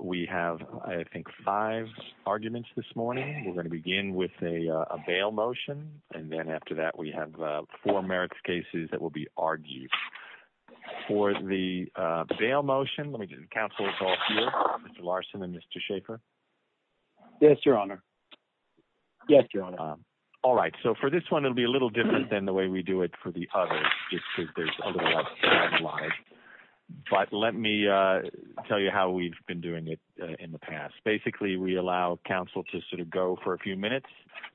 We have, I think, five arguments this morning. We're going to begin with a bail motion and then after that we have four merits cases that will be argued. For the bail motion, let me get the councilors all here, Mr. Larson and Mr. Schaefer. Yes, your honor. Yes, your honor. All right, so for this one it'll be a little different than the way we do it for the others just because there's a lot of slides, but let me tell you how we've been doing it in the past. Basically, we allow council to sort of go for a few minutes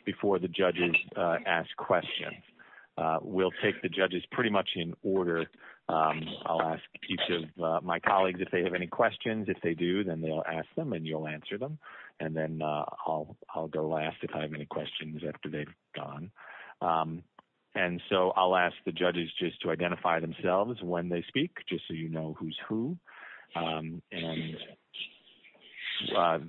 before the judges ask questions. We'll take the judges pretty much in order. I'll ask each of my colleagues if they have any questions. If they do, then they'll ask them and you'll answer them and then I'll go last if I have any questions after they've gone and so I'll ask the judges just to identify themselves when they speak just so you know who's who and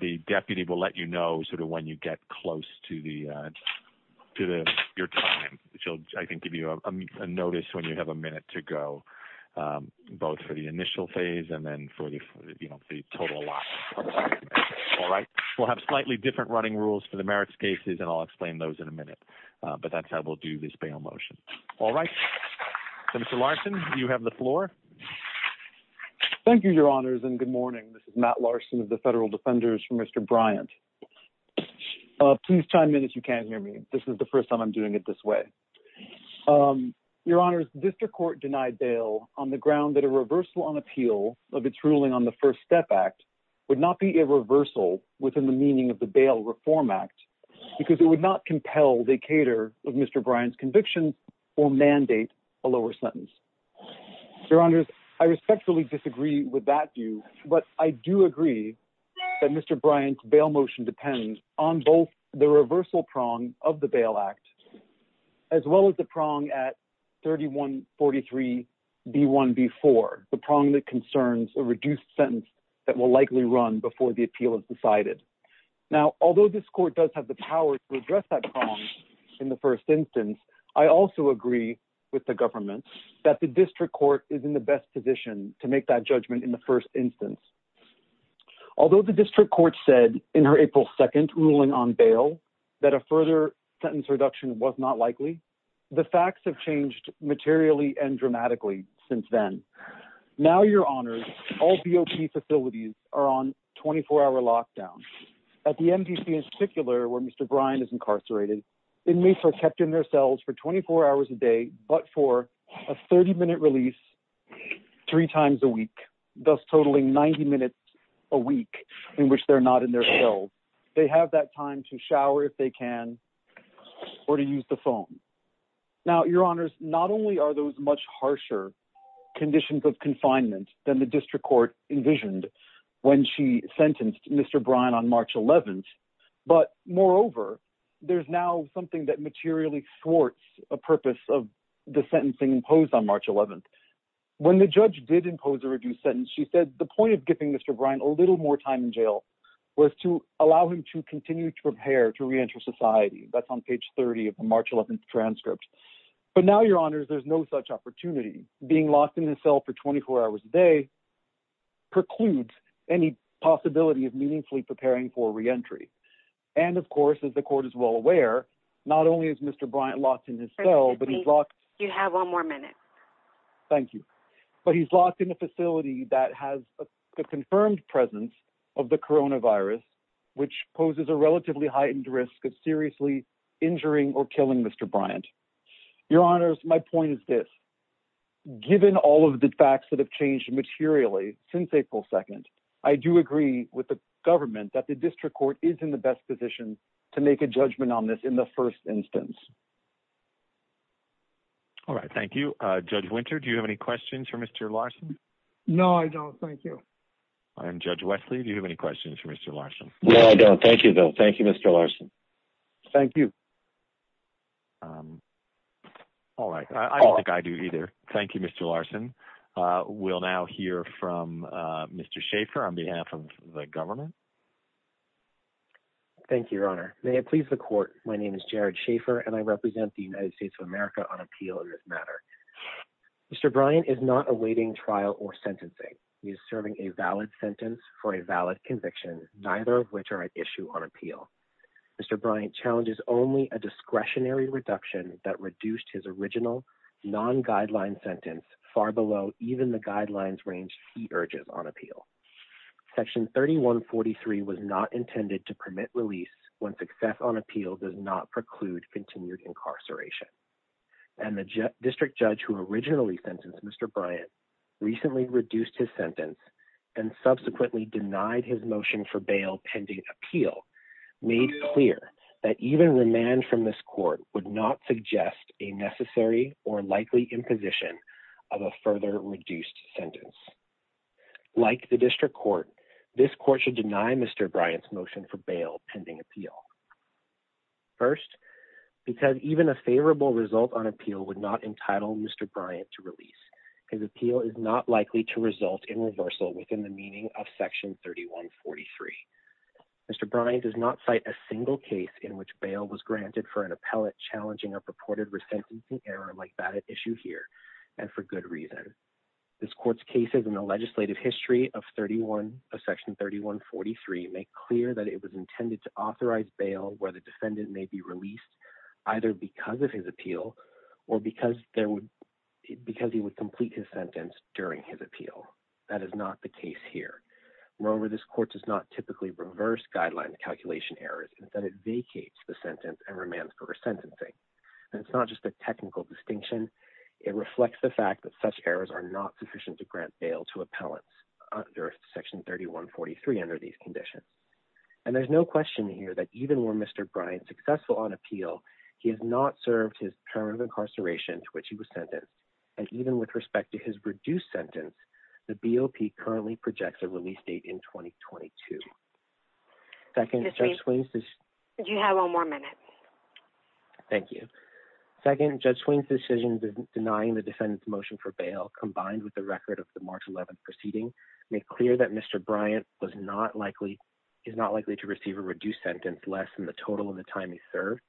the deputy will let you know sort of when you get close to your time. She'll, I think, give you a notice when you have a minute to go both for the initial phase and then for the total lot. All right, we'll have slightly different running rules for the merits cases and I'll explain those in a minute, but that's how we'll do this bail motion. All right, so Mr. Larson, you have the floor. Thank you, your honors, and good morning. This is Matt Larson of the Federal Defenders for Mr. Bryant. Please chime in if you can't hear me. This is the first time I'm doing it this way. Your honors, district court denied bail on the ground that a reversal on appeal of its ruling on the First Step Act would not be a reversal within the meaning of the Bail Reform Act because it would not compel the cater of Mr. Bryant's conviction or mandate a lower sentence. Your honors, I respectfully disagree with that view, but I do agree that Mr. Bryant's bail motion depends on both the reversal prong of the Bail Act as well as the prong at 3143B1B4, the prong that concerns a reduced sentence that will likely run before the appeal is decided. Now, although this court does have the power to address that prong in the first instance, I also agree with the government that the district court is in the best position to make that judgment in the first instance. Although the district court said in her April 2nd ruling on bail that a further sentence reduction was not likely, the facts have changed materially and dramatically since then. Now, your honors, all BOP facilities are on 24-hour lockdown. At the MDC in particular, where Mr. Bryant is incarcerated, inmates are kept in their cells for 24 hours a day, but for a 30-minute release three times a week, thus totaling 90 minutes a week in which they're not in their cells. They have that time to shower if they can or to use the phone. Now, your honors, not only are those much harsher conditions of confinement than the district court envisioned when she sentenced Mr. Bryant on March 11th, but moreover, there's now something that materially thwarts a purpose of the sentencing imposed on March 11th. When the judge did impose a reduced sentence, she said the point of giving Mr. Bryant a little more time in jail was to allow him to continue to prepare to reenter society. That's on page 30 of the March 11th transcript. But now, your honors, there's no such opportunity. Being locked in his cell for 24 hours a day precludes any possibility of meaningfully preparing for reentry. And of course, as the court is well aware, not only is Mr. Bryant locked in his cell, but he's locked- You have one more minute. Thank you. But he's locked in a facility that has a confirmed presence of the coronavirus, which poses a relatively heightened risk of seriously injuring or killing Mr. Bryant. Your honors, my point is this. Given all of the facts that have changed materially since April 2nd, I do agree with the government that the district court is in the best position to make a judgment on this in the first instance. All right. Thank you. Judge Winter, do you have any questions for Mr. Larson? No, I don't. Thank you. And Judge Wesley, do you have any questions for Mr. Larson? No, I don't. Thank you, Bill. Thank you, Mr. Larson. Thank you. All right. I don't think I do either. Thank you, Mr. Larson. We'll now hear from Mr. Schaffer on behalf of the government. Thank you, your honor. May it please the court. My name is Jared Schaffer, and I represent the United States of America on appeal in this matter. Mr. Bryant is not awaiting trial or sentencing. He is serving a valid sentence for a valid conviction, neither of which are at issue on appeal. Mr. Bryant challenges only a discretionary reduction that reduced his original non-guideline sentence far below even the guidelines range he urges on appeal. Section 3143 was not intended to permit release when success on appeal does not preclude continued incarceration. And the district judge who originally sentenced Mr. Bryant recently reduced his sentence and subsequently denied his motion for bail pending appeal made clear that even remand from this court would not suggest a necessary or likely imposition of a further reduced sentence. Like the district court, this court should deny Mr. Bryant's motion for bail pending appeal. First, because even a favorable result on appeal would not entitle Mr. Bryant to release. His appeal is not likely to result in reversal within the meaning of section 3143. Mr. Bryant does not cite a single case in which bail was granted for an appellate challenging a purported resentencing error like that at issue here, and for good reason. This court's cases in the legislative history of section 3143 make clear that it was intended to authorize bail where the would complete his sentence during his appeal. That is not the case here. Moreover, this court does not typically reverse guideline calculation errors. Instead, it vacates the sentence and remands for resentencing. And it's not just a technical distinction. It reflects the fact that such errors are not sufficient to grant bail to appellants under section 3143 under these conditions. And there's no question here that even were Mr. Bryant successful on appeal, he has not served his term of incarceration to which he was sentenced. And even with respect to his reduced sentence, the BOP currently projects a release date in 2022. Second, Judge Swain's decision denying the defendant's motion for bail combined with the record of the March 11th proceeding make clear that Mr. Bryant is not likely to receive a reduced sentence less than the total of the time he served,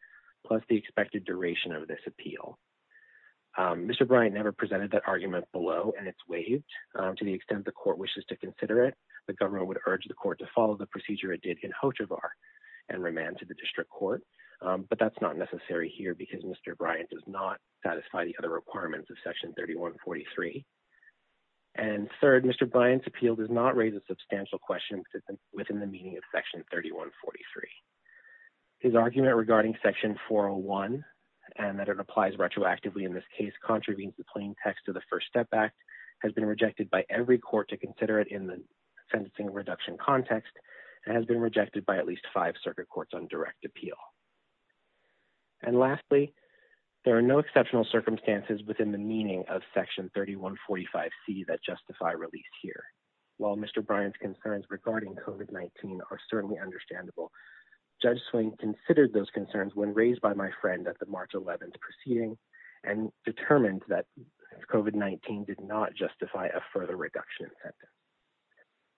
plus the expected duration of this appeal. Mr. Bryant never presented that argument below and it's waived. To the extent the court wishes to consider it, the government would urge the court to follow the procedure it did in Hochevar and remand to the district court. But that's not necessary here because Mr. Bryant does not satisfy the other requirements of section 3143. And third, Mr. Bryant's appeal does not raise a His argument regarding section 401 and that it applies retroactively in this case contravenes the plain text of the First Step Act has been rejected by every court to consider it in the sentencing reduction context and has been rejected by at least five circuit courts on direct appeal. And lastly, there are no exceptional circumstances within the meaning of section 3145C that justify release here. While Mr. Bryant's concerns regarding COVID-19 are certainly understandable, Judge Swain considered those concerns when raised by my friend at the March 11th proceeding and determined that COVID-19 did not justify a further reduction in sentence.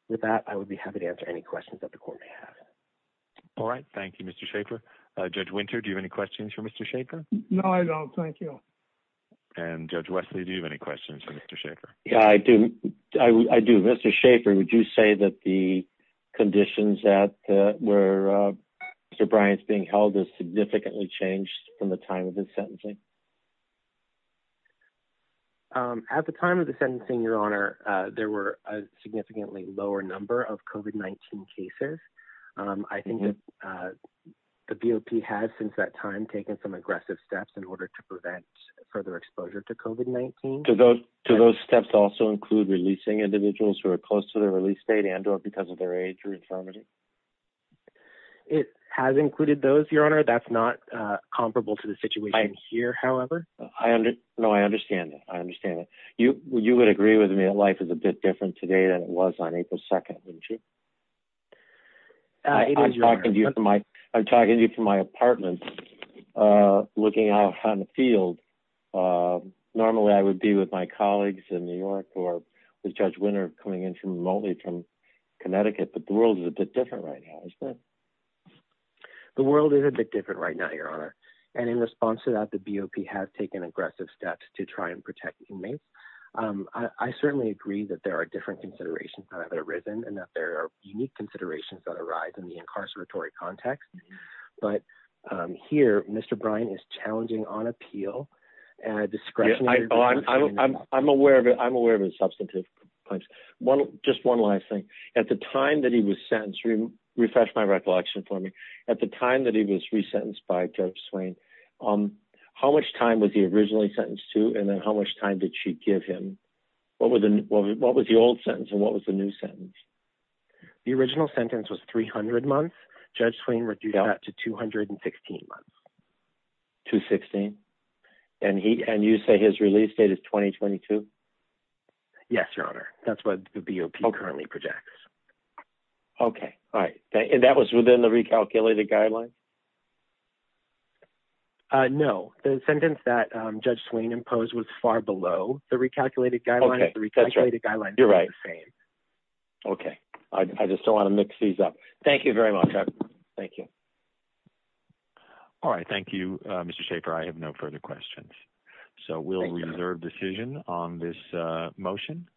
With that, I would be happy to answer any questions that the court may have. All right. Thank you, Mr. Schaefer. Judge Winter, do you have any questions for Mr. Schaefer? No, I don't. Thank you. And Judge Wesley, do you have any questions for Mr. Schaefer? Yeah, I do. I do. Mr. Schaefer, would you say that the conditions that were Mr. Bryant's being held has significantly changed from the time of his sentencing? At the time of the sentencing, Your Honor, there were a significantly lower number of COVID-19 cases. I think that the BOP has since that time taken some aggressive steps in order to prevent further exposure to COVID-19. Do those steps also include releasing individuals who are close to their release date and or because of their age or infirmity? It has included those, Your Honor. That's not comparable to the situation here, however. No, I understand it. I understand it. You would agree with me that life is a bit different today than it was on April 2nd, wouldn't you? I'm talking to you from my apartment looking out on the field. Normally, I would be with my colleagues in New York or with Judge Winter coming in remotely from Connecticut, but the world is a bit different right now, isn't it? The world is a bit different right now, Your Honor. And in response to that, the BOP has taken aggressive steps to try and protect inmates. I certainly agree that there are different considerations that have arisen and that there are unique considerations that context. But here, Mr. Bryan is challenging on appeal and discretionary. I'm aware of it. I'm aware of his substantive points. Just one last thing. At the time that he was sentenced, refresh my recollection for me. At the time that he was resentenced by Judge Swain, how much time was he originally sentenced to and then how much time did she give him? What was the old sentence and what was the new sentence? The original sentence was 300 months. Judge Swain reduced that to 216 months. 216? And you say his release date is 2022? Yes, Your Honor. That's what the BOP currently projects. Okay. All right. And that was within the recalculated guidelines? No. The sentence that Judge Swain imposed was far below the recalculated guidelines. You're right. Okay. I just don't want to mix these up. Thank you very much. Thank you. All right. Thank you, Mr. Shaffer. I have no further questions. So we'll reserve decision on this motion.